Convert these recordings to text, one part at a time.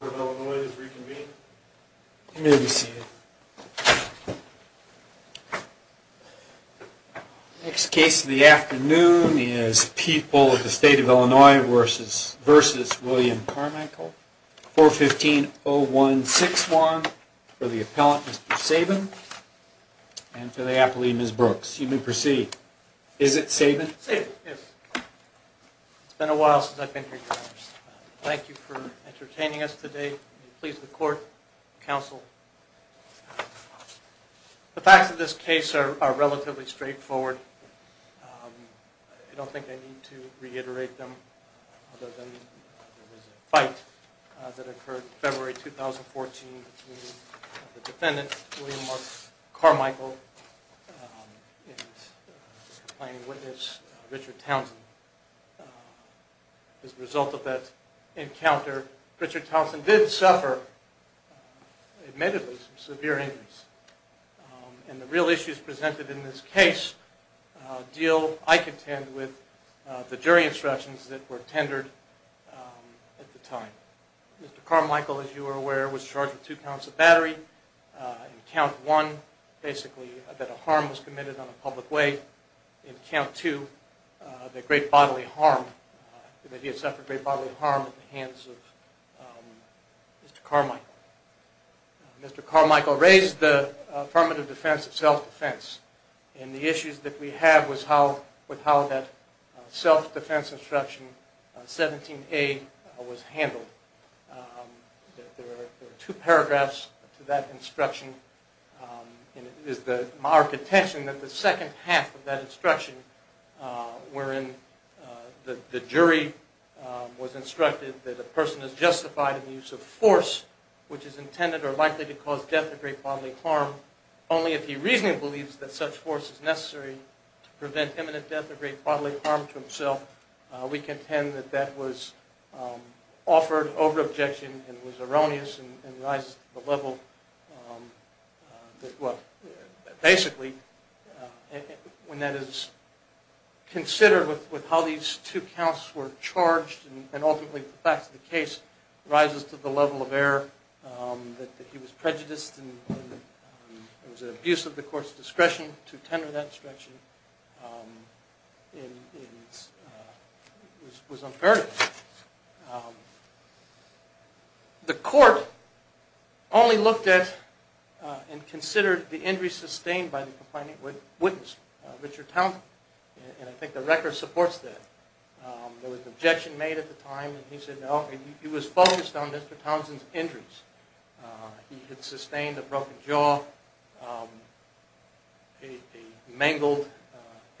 of Illinois is reconvened. You may be seated. Next case of the afternoon is People of the State of Illinois v. William Carmichael, 415-0161, for the appellant, Mr. Sabin, and for the appellee, Ms. Brooks. You may proceed. Is it Sabin? Sabin, yes. It's been a while since I've been here, Your Honor. Thank you for entertaining us today. Please, the court, counsel. The facts of this case are relatively straightforward. I don't think I need to reiterate them other than there was a fight that occurred February 2014 between the defendant, William R. Carmichael, and the complainant witness, Richard Townsend. As a result of that encounter, Richard Townsend did suffer, admittedly, some severe injuries. And the real issues presented in this case deal, I contend, with the jury instructions that were tendered at the time. Mr. Carmichael, as you are aware, was charged with two counts of battery. In count one, basically, that a harm was committed on a public way. In count two, that he had suffered great bodily harm at the hands of Mr. Carmichael. Mr. Carmichael raised the affirmative defense and self-defense, and the issues that we have with how that self-defense instruction, 17A, was handled. There are two paragraphs to that instruction, and it is the marked attention that the second half of that instruction, wherein the jury was instructed that a person is justified in the use of force, which is intended or likely to cause death or great bodily harm, only if he reasonably believes that such force is necessary to prevent imminent death or great bodily harm to himself. We contend that that was offered over objection and was erroneous and rises to the level that, well, basically, when that is considered with how these two counts were charged, and ultimately the facts of the case, rises to the level of error that he was prejudiced and it was an abuse of the court's discretion to tender that instruction. It was unfair. The court only looked at and considered the injuries sustained by the complainant's witness, Richard Townsend, and I think the record supports that. There was objection made at the time, and he said no. He was focused on Mr. Townsend's injuries. He had sustained a broken jaw, a mangled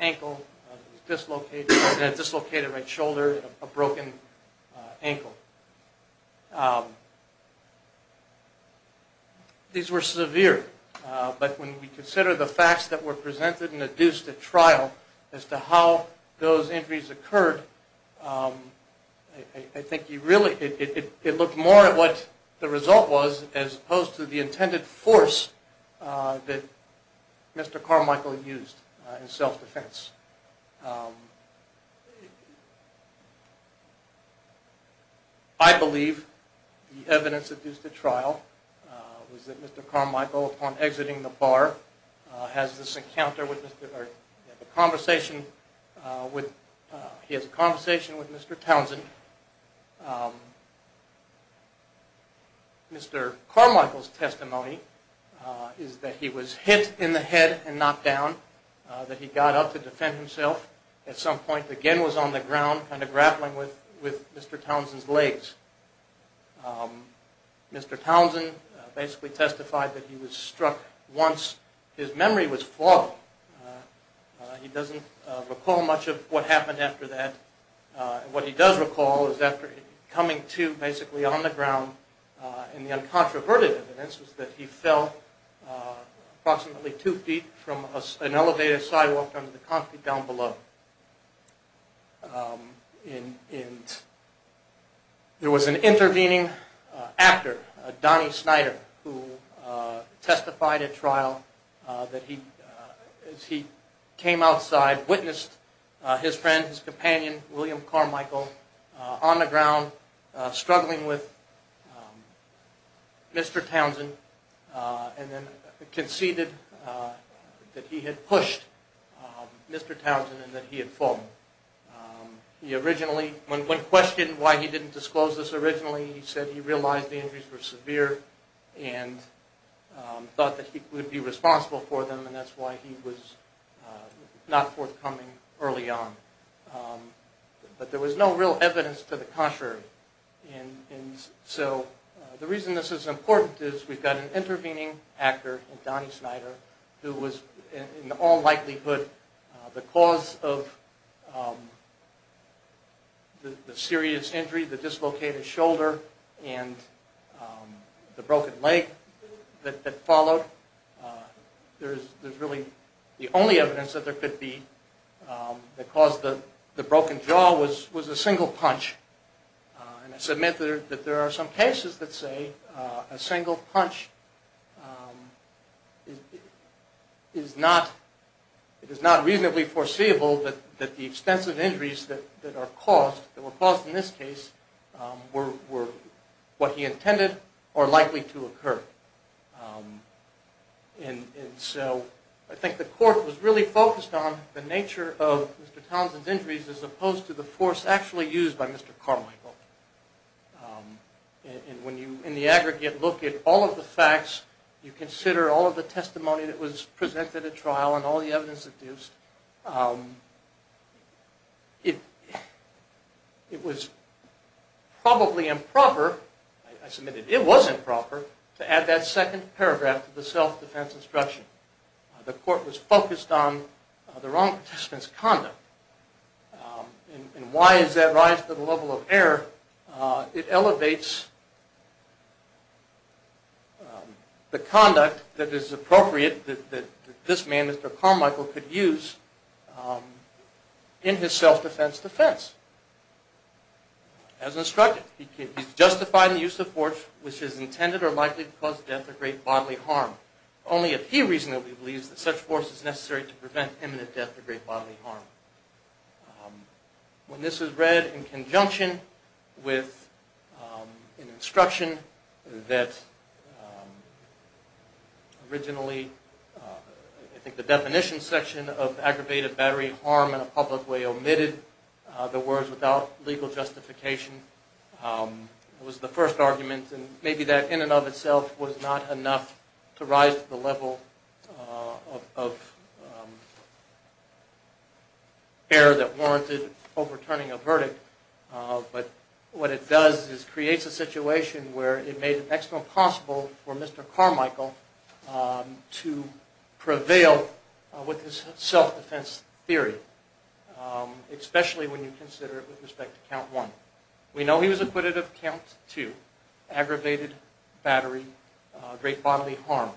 ankle, a dislocated right shoulder, and a broken ankle. These were severe, but when we consider the facts that were presented and adduced at trial as to how those injuries occurred, I think it looked more at what the result was as opposed to the intended force that Mr. Carmichael used in self-defense. I believe the evidence adduced at trial was that Mr. Carmichael, upon exiting the bar, has a conversation with Mr. Townsend. Mr. Carmichael's testimony is that he was hit in the head and knocked down, that he got up to defend himself at some point, again was on the ground kind of grappling with Mr. Townsend's legs. Mr. Townsend basically testified that he was struck once. His memory was flawed. He doesn't recall much of what happened after that. What he does recall is after coming to basically on the ground, and the uncontroverted evidence was that he fell approximately two feet from an elevated sidewalk under the concrete down below. There was an intervening actor, Donnie Snyder, who testified at trial that he came outside, witnessed his friend, his companion, William Carmichael, on the ground struggling with Mr. Townsend, and then conceded that he had pushed Mr. Townsend and that he had fallen. When questioned why he didn't disclose this originally, he said he realized the injuries were severe and thought that he would be responsible for them, and that's why he was not forthcoming early on. But there was no real evidence to the contrary. So the reason this is important is we've got an intervening actor, Donnie Snyder, who was in all likelihood the cause of the serious injury, the dislocated shoulder, and the broken leg that followed. There's really the only evidence that there could be that caused the broken jaw was a single punch. And I submit that there are some cases that say a single punch is not reasonably foreseeable that the extensive injuries that were caused in this case were what he intended or likely to occur. And so I think the court was really focused on the nature of Mr. Townsend's injuries as opposed to the force actually used by Mr. Carmichael. And when you, in the aggregate, look at all of the facts, you consider all of the testimony that was presented at trial and all the evidence deduced, it was probably improper, I submit that it was improper, to add that second paragraph to the self-defense instruction. The court was focused on the wrong participant's conduct. And why does that rise to the level of error? It elevates the conduct that is appropriate that this man, Mr. Carmichael, could use in his self-defense defense. As instructed, he's justified in the use of force which is intended or likely to cause death or great bodily harm, only if he reasonably believes that such force is necessary to prevent imminent death or great bodily harm. When this was read in conjunction with an instruction that originally, I think the definition section of aggravated battery harm in a public way omitted the words without legal justification. It was the first argument and maybe that in and of itself was not enough to rise to the level of error that warranted overturning a verdict, but what it does is creates a situation where it made it excellent possible for Mr. Carmichael to prevail with his self-defense theory, especially when you consider it with respect to count one. We know he was acquitted of count two, aggravated battery, great bodily harm.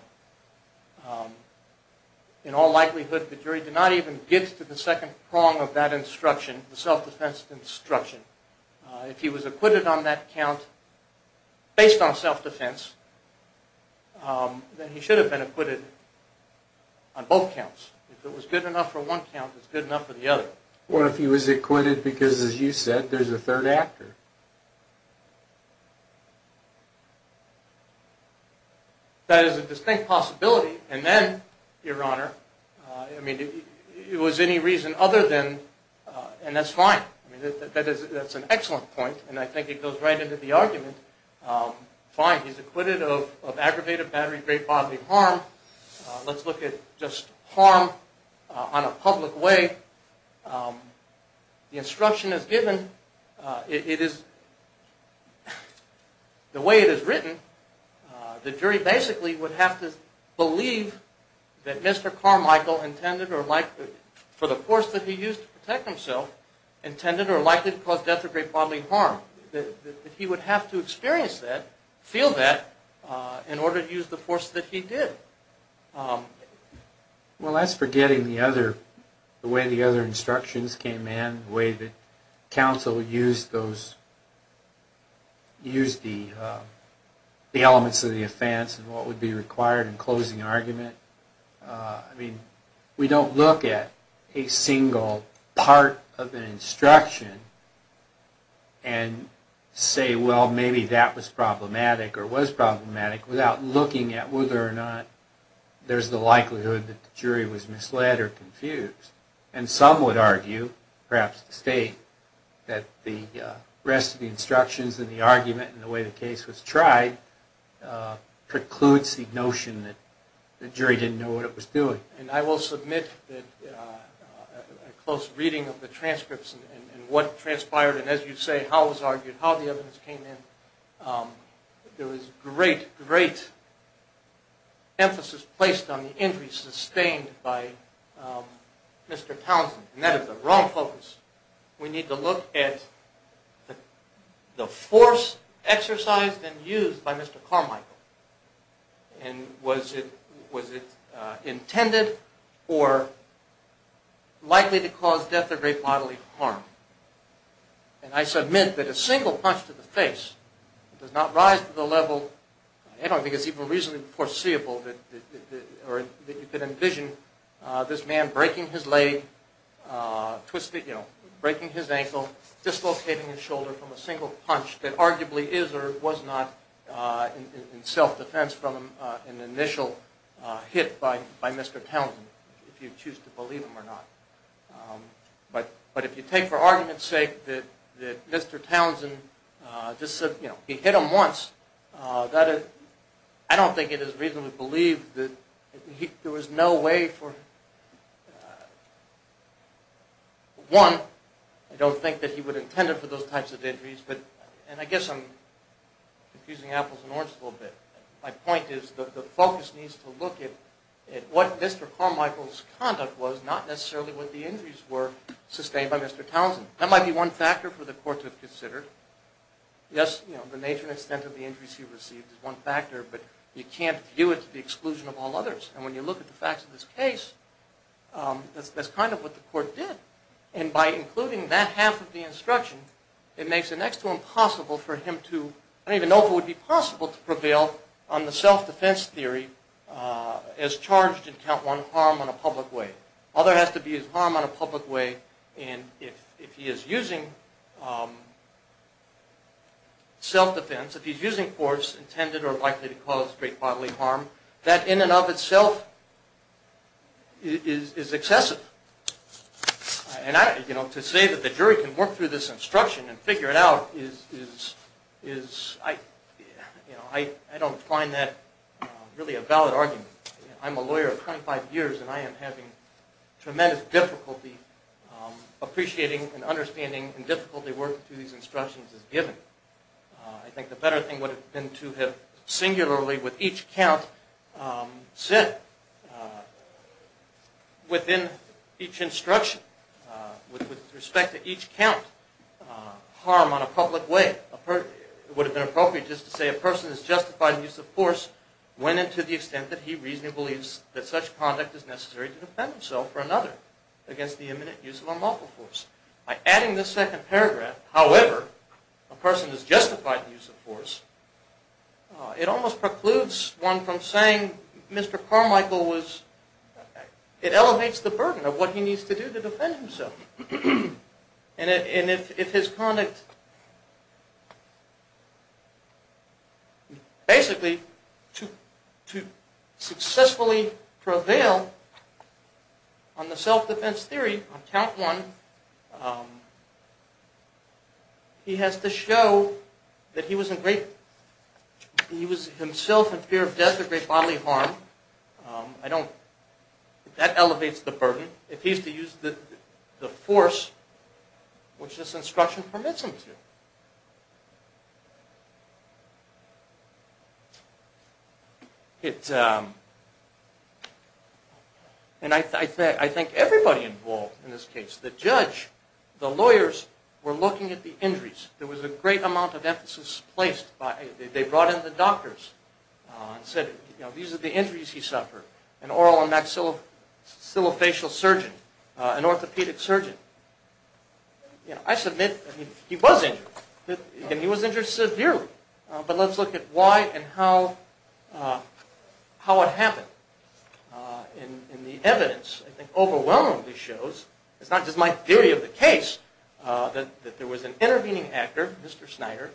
In all likelihood, the jury did not even get to the second prong of that instruction, the self-defense instruction. If he was acquitted on that count based on self-defense, then he should have been acquitted on both counts. If it was good enough for one count, it's good enough for the other. What if he was acquitted because, as you said, there's a third actor? That is a distinct possibility, and then, Your Honor, I mean, it was any reason other than, and that's fine. That's an excellent point, and I think it goes right into the argument. Fine, he's acquitted of aggravated battery, great bodily harm. Let's look at just harm on a public way. The instruction is given. It is, the way it is written, the jury basically would have to believe that Mr. Carmichael intended or likely, for the force that he used to protect himself, intended or likely to cause death or great bodily harm. He would have to experience that, feel that, in order to use the force that he did. Well, that's forgetting the other, the way the other instructions came in, the way that counsel used those, used the elements of the offense and what would be required in closing argument. I mean, we don't look at a single part of an instruction and say, well, maybe that was problematic or was problematic without looking at whether or not there's the likelihood that the jury was misled or confused. And some would argue, perhaps to state, that the rest of the instructions and the argument and the way the case was tried precludes the notion that the jury didn't know what it was doing. And I will submit that a close reading of the transcripts and what transpired, and as you say, how it was argued, how the evidence came in, there was great, great emphasis placed on the injuries sustained by Mr. Townsend. And that is the wrong focus. We need to look at the force exercised and used by Mr. Carmichael. And was it intended or likely to cause death or great bodily harm? And I submit that a single punch to the face does not rise to the level, I don't think it's even reasonably foreseeable that you could envision this man breaking his leg, twisting, you know, breaking his ankle, dislocating his shoulder from a single punch that arguably is or was not in self-defense from an initial hit by Mr. Townsend, if you choose to believe him or not. But if you take for argument's sake that Mr. Townsend just said, you know, he hit him once, I don't think it is reasonably believed that there was no way for, one, I don't think that he would have intended for those types of injuries, and I guess I'm confusing apples and oranges a little bit. My point is that the focus needs to look at what Mr. Carmichael's conduct was, not necessarily what the injuries were sustained by Mr. Townsend. That might be one factor for the court to consider. Yes, you know, the nature and extent of the injuries he received is one factor, but you can't view it to the exclusion of all others. And when you look at the facts of this case, that's kind of what the court did. And by including that half of the instruction, it makes it next to impossible for him to, I don't even know if it would be possible to prevail on the self-defense theory as charged in count one harm on a public way. All there has to be is harm on a public way, and if he is using self-defense, if he's using force intended or likely to cause great bodily harm, that in and of itself is excessive. And I, you know, to say that the jury can work through this instruction and figure it out is, you know, I don't find that really a valid argument. I'm a lawyer of 25 years, and I am having tremendous difficulty appreciating and understanding and difficulty working through these instructions as given. I think the better thing would have been to have singularly with each count said within each instruction with respect to each count harm on a public way. It would have been appropriate just to say a person is justified in use of force when and to the extent that he reasonably believes that such conduct is necessary to defend himself or another against the imminent use of unlawful force. By adding this second paragraph, however, a person is justified in use of force, it almost precludes one from saying Mr. Carmichael was, it elevates the burden of what he needs to do to defend himself. And if his conduct, basically to successfully prevail on the self-defense theory on count one, he has to show that he was himself in fear of death or great bodily harm. I don't, that elevates the burden. If he's to use the force, which this instruction permits him to. And I think everybody involved in this case, the judge, the lawyers, were looking at the injuries. There was a great amount of emphasis placed, they brought in the doctors and said these are the injuries he suffered, an oral and maxillofacial surgeon, an orthopedic surgeon. I submit he was injured, and he was injured severely. But let's look at why and how it happened. And the evidence overwhelmingly shows, it's not just my theory of the case, that there was an intervening actor, Mr. Snyder,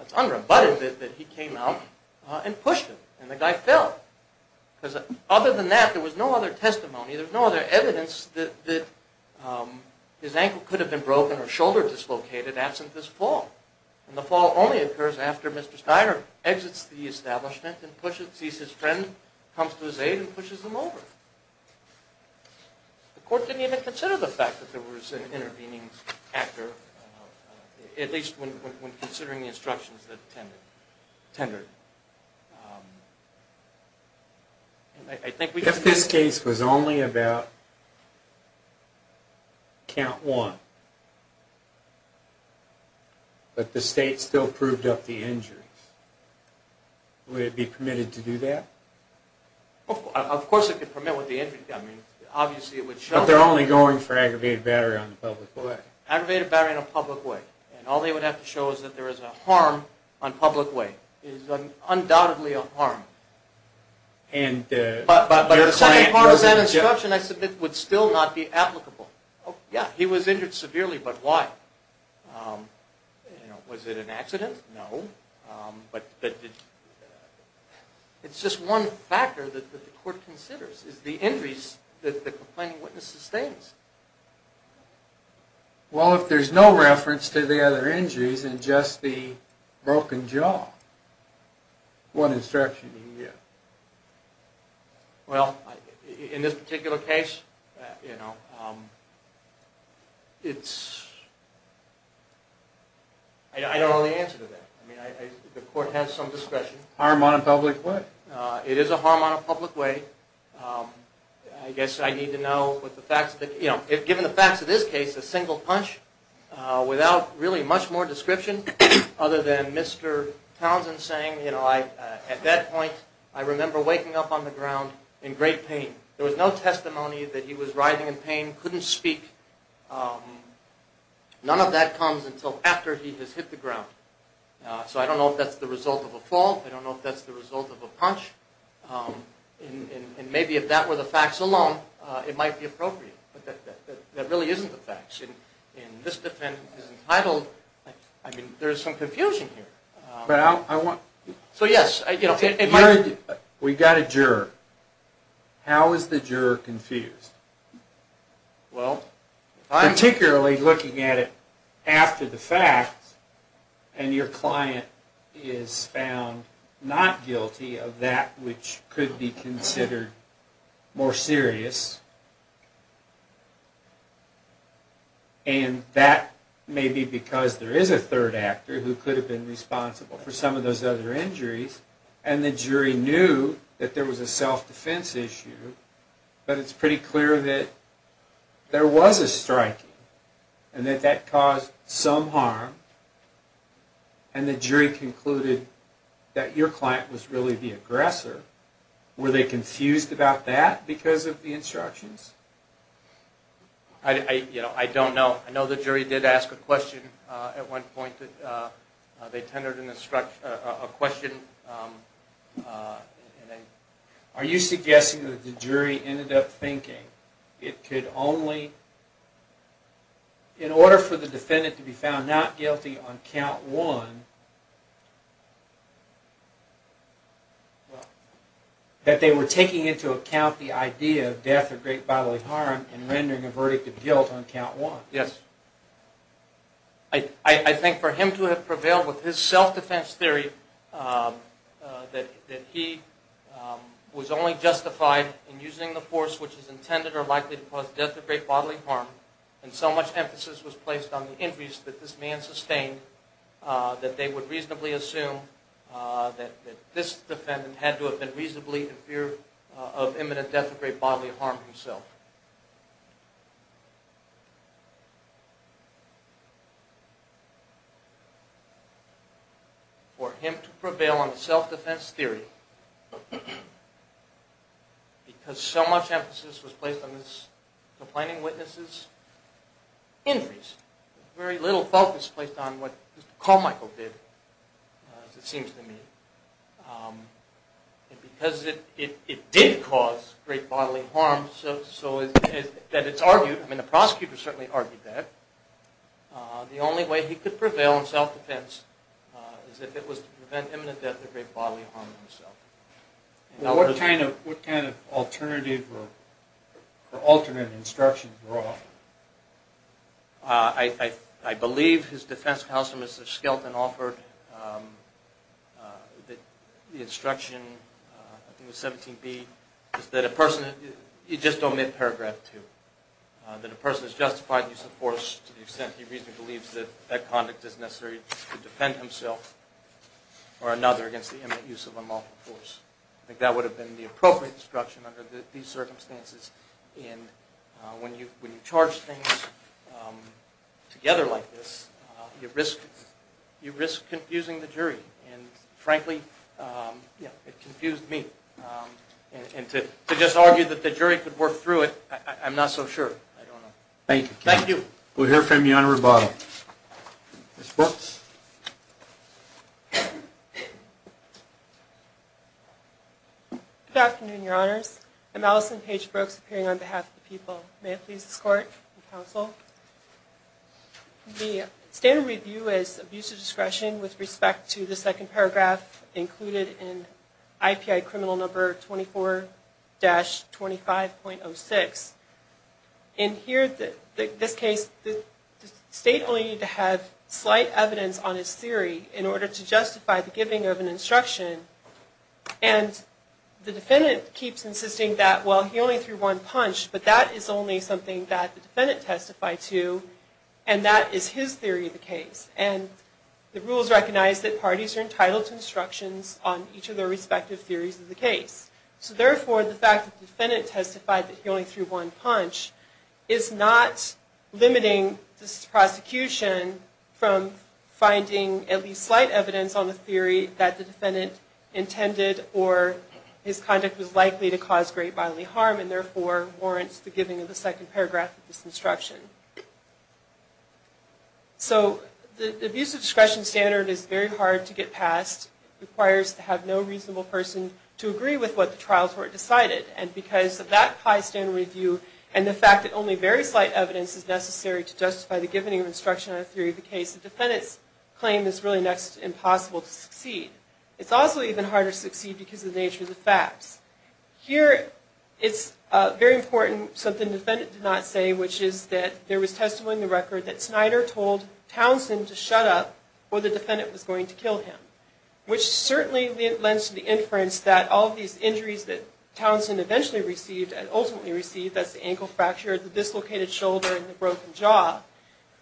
it's unrebutted that he came out and pushed him and the guy fell. Because other than that, there was no other testimony, there was no other evidence that his ankle could have been broken or shoulder dislocated absent this fall. And the fall only occurs after Mr. Snyder exits the establishment and sees his friend, comes to his aid and pushes him over. The court didn't even consider the fact that there was an intervening actor, at least when considering the instructions that tended. If this case was only about count one, but the state still proved up the injuries, would it be permitted to do that? Of course it could permit with the injury, I mean, obviously it would show. But they're only going for aggravated battery in a public way. Aggravated battery in a public way, and all they would have to show is that there is a harm on public way, is undoubtedly a harm. But the second part of that instruction I submit would still not be applicable. Yeah, he was injured severely, but why? Was it an accident? No. But it's just one factor that the court considers, is the injuries that the complaining witness sustains. Well, if there's no reference to the other injuries and just the broken jaw, what instruction do you give? Well, in this particular case, I don't know the answer to that. I mean, the court has some discretion. Harm on a public way. It is a harm on a public way. I guess I need to know, given the facts of this case, a single punch without really much more description, other than Mr. Townsend saying, you know, at that point, I remember waking up on the ground in great pain. There was no testimony that he was writhing in pain, couldn't speak. None of that comes until after he has hit the ground. So I don't know if that's the result of a fall. I don't know if that's the result of a punch. And maybe if that were the facts alone, it might be appropriate. But that really isn't the facts. And this defendant is entitled, I mean, there's some confusion here. But I want... So, yes, you know... We've got a juror. How is the juror confused? Well... Particularly looking at it after the facts, and your client is found not guilty of that which could be considered more serious. And that may be because there is a third actor who could have been responsible for some of those other injuries. And the jury knew that there was a self-defense issue. But it's pretty clear that there was a striking, and that that caused some harm. And the jury concluded that your client was really the aggressor. Were they confused about that because of the instructions? I don't know. I know the jury did ask a question at one point. They tendered a question. Are you suggesting that the jury ended up thinking it could only... In order for the defendant to be found not guilty on count one, that they were taking into account the idea of death or great bodily harm and rendering a verdict of guilt on count one? Yes. I think for him to have prevailed with his self-defense theory, that he was only justified in using the force which is intended or likely to cause death or great bodily harm, and so much emphasis was placed on the injuries that this man sustained, that they would reasonably assume that this defendant had to have been reasonably in fear of imminent death or great bodily harm himself. For him to prevail on a self-defense theory, because so much emphasis was placed on this complaining witness's injuries, very little focus was placed on what Mr. Carmichael did, it seems to me. And because it did cause great bodily harm, so that it's argued, I mean the prosecutor certainly argued that, the only way he could prevail in self-defense is if it was to prevent imminent death or great bodily harm himself. What kind of alternative or alternate instructions were offered? I believe his defense counselor, Mr. Skelton, offered the instruction, I think it was 17b, is that a person, just omit paragraph two, that a person is justified in the use of force to the extent he reasonably believes that that conduct is necessary to defend himself or another against the imminent use of unlawful force. I think that would have been the appropriate instruction under these circumstances. And when you charge things together like this, you risk confusing the jury. And frankly, it confused me. And to just argue that the jury could work through it, I'm not so sure. Thank you. Thank you. We'll hear from the Honorable Bob. Ms. Brooks. Good afternoon, Your Honors. I'm Allison Paige Brooks, appearing on behalf of the people. May I please escort the counsel? The standard review is abuse of discretion with respect to the second paragraph included in IPI criminal number 24-25.06. In this case, the state only needed to have slight evidence on his theory in order to justify the giving of an instruction. And the defendant keeps insisting that, well, he only threw one punch, but that is only something that the defendant testified to, and that is his theory of the case. And the rules recognize that parties are entitled to instructions on each of their respective theories of the case. So therefore, the fact that the defendant testified that he only threw one punch is not limiting this prosecution from finding at least slight evidence on the theory that the defendant intended or his conduct was likely to cause great bodily harm and therefore warrants the giving of the second paragraph of this instruction. So the abuse of discretion standard is very hard to get past. It requires to have no reasonable person to agree with what the trial court decided. And because of that high standard review and the fact that only very slight evidence is necessary to justify the giving of instruction on the theory of the case, the defendant's claim is really next to impossible to succeed. It's also even harder to succeed because of the nature of the facts. Here, it's very important something the defendant did not say, which is that there was testimony in the record that Snyder told Townsend to shut up or the defendant was going to kill him, which certainly lends to the inference that all of these injuries that Townsend eventually received that's the ankle fracture, the dislocated shoulder, and the broken jaw,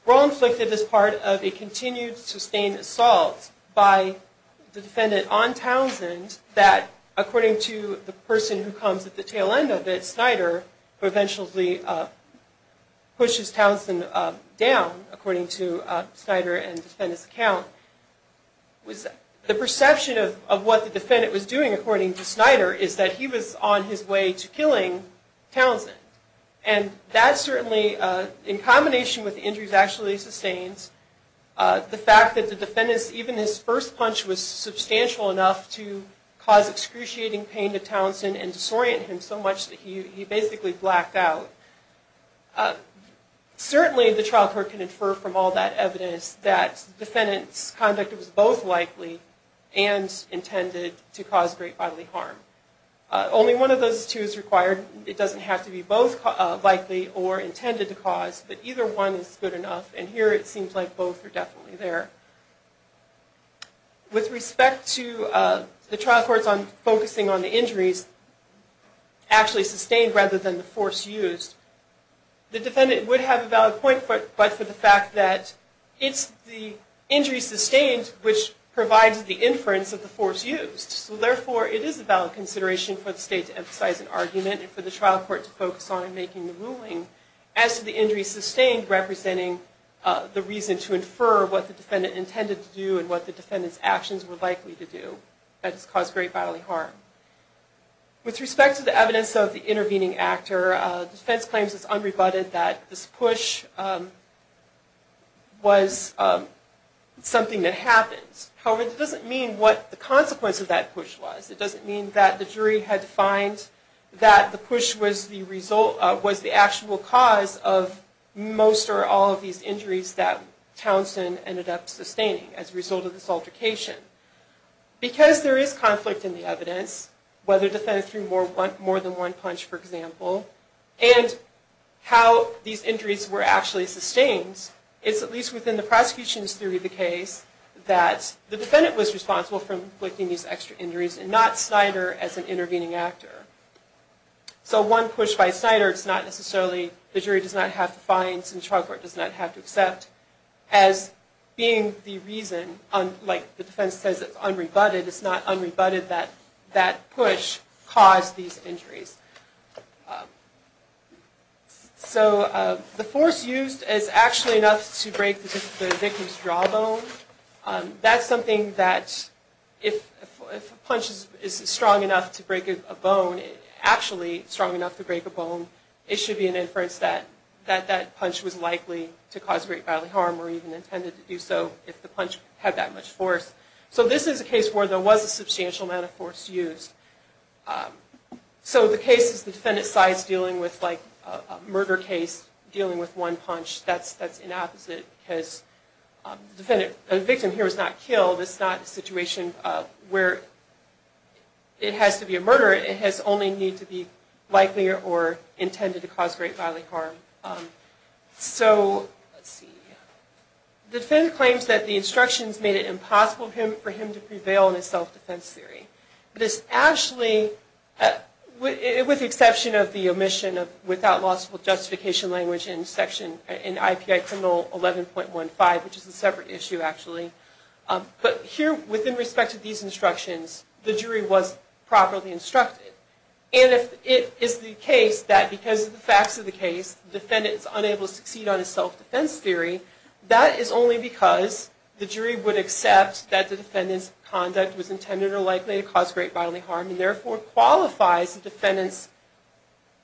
were all inflicted as part of a continued sustained assault by the defendant on Townsend that according to the person who comes at the tail end of it, Snyder, who eventually pushes Townsend down, according to Snyder and the defendant's account, the perception of what the defendant was doing, according to Snyder, is that he was on his way to killing Townsend. And that certainly, in combination with the injuries actually sustained, the fact that the defendant's, even his first punch was substantial enough to cause excruciating pain to Townsend and disorient him so much that he basically blacked out. Certainly the trial court can infer from all that evidence that the defendant's conduct was both likely and intended to cause great bodily harm. Only one of those two is required. It doesn't have to be both likely or intended to cause, but either one is good enough. And here it seems like both are definitely there. With respect to the trial courts focusing on the injuries actually sustained rather than the force used, the defendant would have a valid point, but for the fact that it's the injuries sustained which provides the inference of the force used. So therefore, it is a valid consideration for the state to emphasize an argument and for the trial court to focus on making the ruling as to the injuries sustained representing the reason to infer what the defendant intended to do and what the defendant's actions were likely to do that has caused great bodily harm. With respect to the evidence of the intervening actor, defense claims it's unrebutted that this push was something that happened. However, it doesn't mean what the consequence of that push was. It doesn't mean that the jury had to find that the push was the actual cause of most or all of these injuries that Townsend ended up sustaining as a result of this altercation. Because there is conflict in the evidence, whether the defendant threw more than one punch, for example, and how these injuries were actually sustained, it's at least within the prosecution's theory of the case that the defendant was responsible for inflicting these extra injuries and not Snyder as an intervening actor. So one push by Snyder, it's not necessarily the jury does not have to find, or what's in the trial court does not have to accept as being the reason, like the defense says it's unrebutted, it's not unrebutted that that push caused these injuries. So the force used is actually enough to break the victim's jawbone. That's something that if a punch is strong enough to break a bone, actually strong enough to break a bone, it should be an inference that that punch was likely to cause great bodily harm or even intended to do so if the punch had that much force. So this is a case where there was a substantial amount of force used. So the case is the defendant sides dealing with like a murder case dealing with one punch. That's an opposite because the victim here was not killed. It's not a situation where it has to be a murder. It has only need to be likely or intended to cause great bodily harm. So let's see. The defendant claims that the instructions made it impossible for him to prevail in his self-defense theory. This actually, with the exception of the omission of without lawful justification language in section, in IPI criminal 11.15, which is a separate issue actually. But here within respect to these instructions, the jury was properly instructed. And if it is the case that because of the facts of the case, the defendant is unable to succeed on his self-defense theory, that is only because the jury would accept that the defendant's conduct was intended or likely to cause great bodily harm and therefore qualifies the defendant's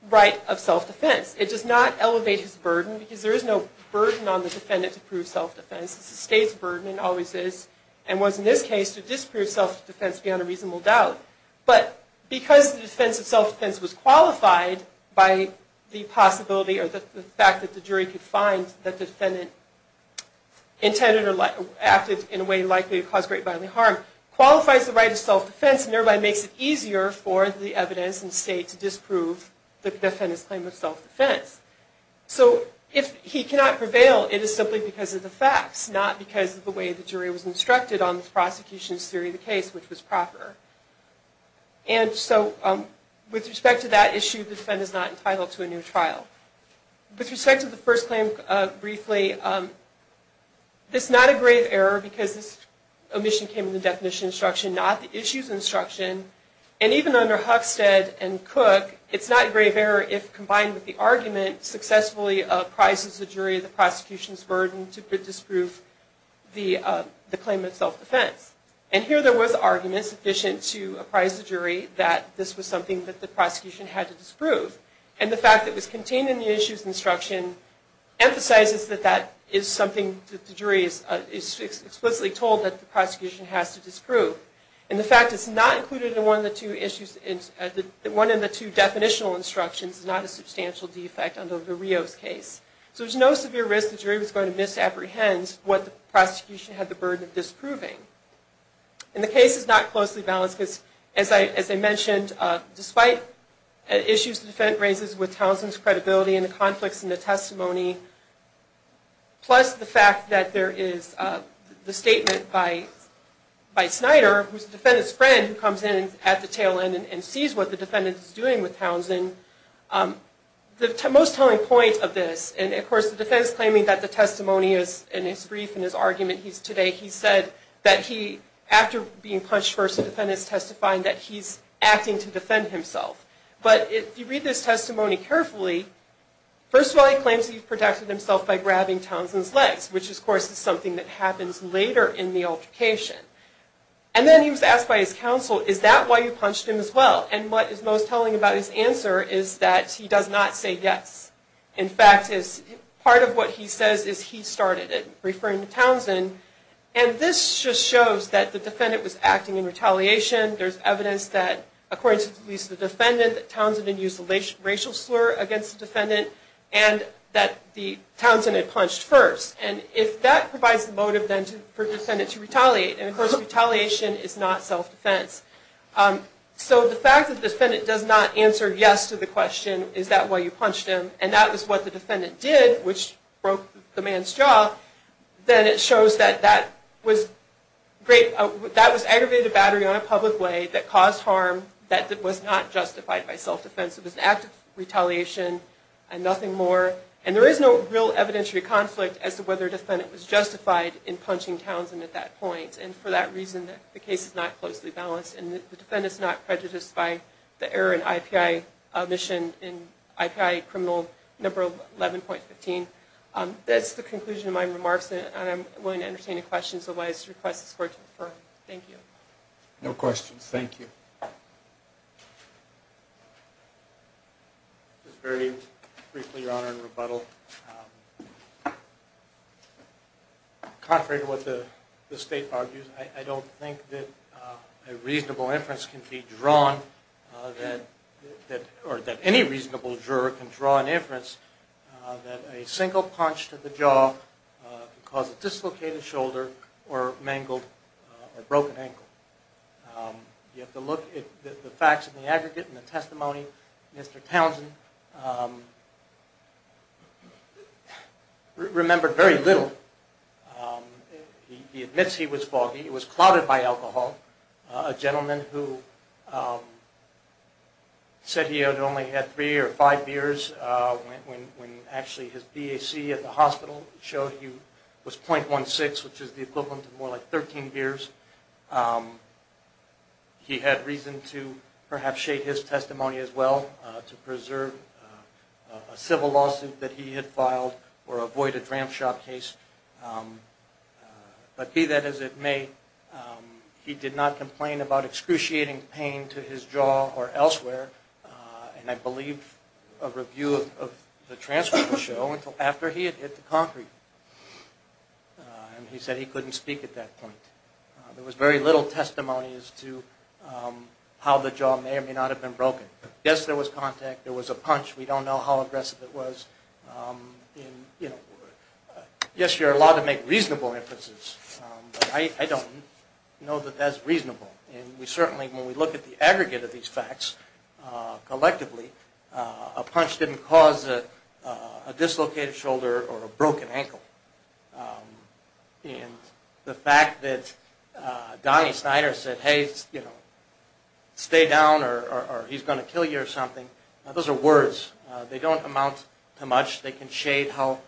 right of self-defense. It does not elevate his burden because there is no burden on the defendant to prove self-defense. It's the state's burden and always is and was in this case to disprove self-defense beyond a reasonable doubt. But because the defense of self-defense was qualified by the possibility or the fact that the jury could find that the defendant intended or acted in a way likely to cause great bodily harm qualifies the right of self-defense and thereby makes it easier for the evidence in the state to disprove the defendant's claim of self-defense. So if he cannot prevail, it is simply because of the facts, not because of the way the jury was instructed on the prosecution's theory of the case, which was proper. And so with respect to that issue, the defendant is not entitled to a new trial. With respect to the first claim, briefly, this is not a grave error because this omission came from the definition instruction, not the issues instruction. And even under Huckstead and Cook, it's not a grave error if combined with the argument, successfully apprises the jury of the prosecution's burden to disprove the claim of self-defense. And here there was argument sufficient to apprise the jury that this was something that the prosecution had to disprove. And the fact that it was contained in the issues instruction emphasizes that that is something that the jury is explicitly told that the prosecution has to disprove. And the fact it's not included in one of the two definitions instructions is not a substantial defect under the Rios case. So there's no severe risk the jury was going to misapprehend what the prosecution had the burden of disproving. And the case is not closely balanced because, as I mentioned, despite issues the defendant raises with Townsend's credibility and the conflicts in the testimony, plus the fact that there is the statement by Snyder, who's the defendant's friend, who comes in at the tail end and sees what the defendant is doing with Townsend. The most telling point of this, and of course the defendant's claiming that the testimony is, in his brief, in his argument he's today, he said that he, after being punched first, the defendant's testifying that he's acting to defend himself. But if you read this testimony carefully, first of all he claims he's protected himself by grabbing Townsend's legs, which of course is something that happens later in the altercation. And then he was asked by his counsel, is that why you punched him as well? And what is most telling about his answer is that he does not say yes. In fact, part of what he says is he started it, referring to Townsend. And this just shows that the defendant was acting in retaliation. There's evidence that, according to at least the defendant, that Townsend had used a racial slur against the defendant, and that Townsend had punched first. And if that provides the motive then for the defendant to retaliate, and of course retaliation is not self-defense. So the fact that the defendant does not answer yes to the question, is that why you punched him, and that is what the defendant did, which broke the man's jaw, then it shows that that was aggravated battery on a public way that caused harm that was not justified by self-defense. It was an act of retaliation and nothing more. And there is no real evidentiary conflict as to whether the defendant was justified in punching Townsend at that point. And for that reason the case is not closely balanced. And the defendant is not prejudiced by the error in IPI mission, in IPI criminal number 11.15. That's the conclusion of my remarks, and I'm willing to entertain any questions otherwise request this court to defer. Thank you. No questions. Thank you. Just very briefly, Your Honor, in rebuttal, contrary to what the state argues, I don't think that a reasonable inference can be drawn, or that any reasonable juror can draw an inference that a single punch to the jaw can cause a dislocated shoulder or mangled or broken ankle. You have to look at the facts of the aggregate and the testimony. Mr. Townsend remembered very little. He admits he was foggy. He was clouded by alcohol. A gentleman who said he had only had three or five beers when actually his BAC at the hospital showed he was .16, which is the equivalent of more like 13 beers. He had reason to perhaps shade his testimony as well to preserve a civil lawsuit that he had filed or avoid a dramp shot case. But be that as it may, he did not complain about excruciating pain to his jaw or elsewhere, and I believe a review of the transcript will show, until after he had hit the concrete. And he said he couldn't speak at that point. There was very little testimony as to how the jaw may or may not have been broken. Yes, there was contact. There was a punch. We don't know how aggressive it was. And, you know, yes, you're allowed to make reasonable inferences, but I don't know that that's reasonable. And we certainly, when we look at the aggregate of these facts collectively, a punch didn't cause a dislocated shoulder or a broken ankle. And the fact that Donnie Snyder said, hey, you know, stay down or he's going to kill you or something, those are words. They don't amount to much. They can shade how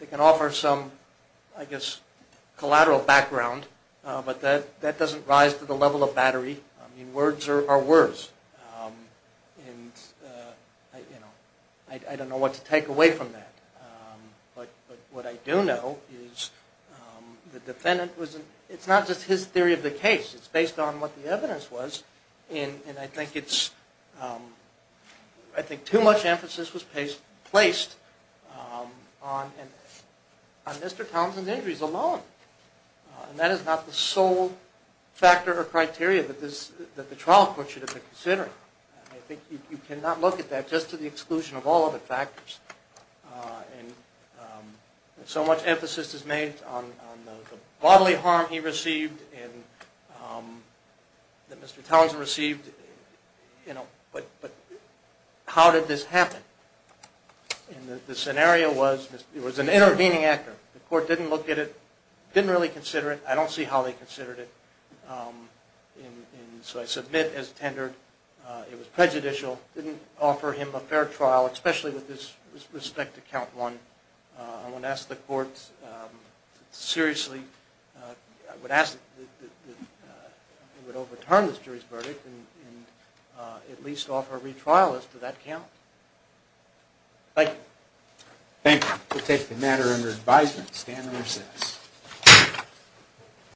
they can offer some, I guess, collateral background. But that doesn't rise to the level of battery. I mean, words are words. And, you know, I don't know what to take away from that. But what I do know is the defendant was, it's not just his theory of the case. It's based on what the evidence was. And I think it's, I think too much emphasis was placed on Mr. Townsend's injuries alone. And that is not the sole factor or criteria that the trial court should have been considering. I think you cannot look at that just to the exclusion of all other factors. And so much emphasis is made on the bodily harm he received and that Mr. Townsend received. You know, but how did this happen? And the scenario was it was an intervening actor. The court didn't look at it, didn't really consider it. I don't see how they considered it. And so I submit as tendered it was prejudicial, didn't offer him a fair trial, especially with respect to count one. I'm going to ask the court to seriously, I would ask that they would overturn this jury's verdict and at least offer a retrial as to that count. Thank you. Thank you. We'll take the matter under advisement. Stand in recess.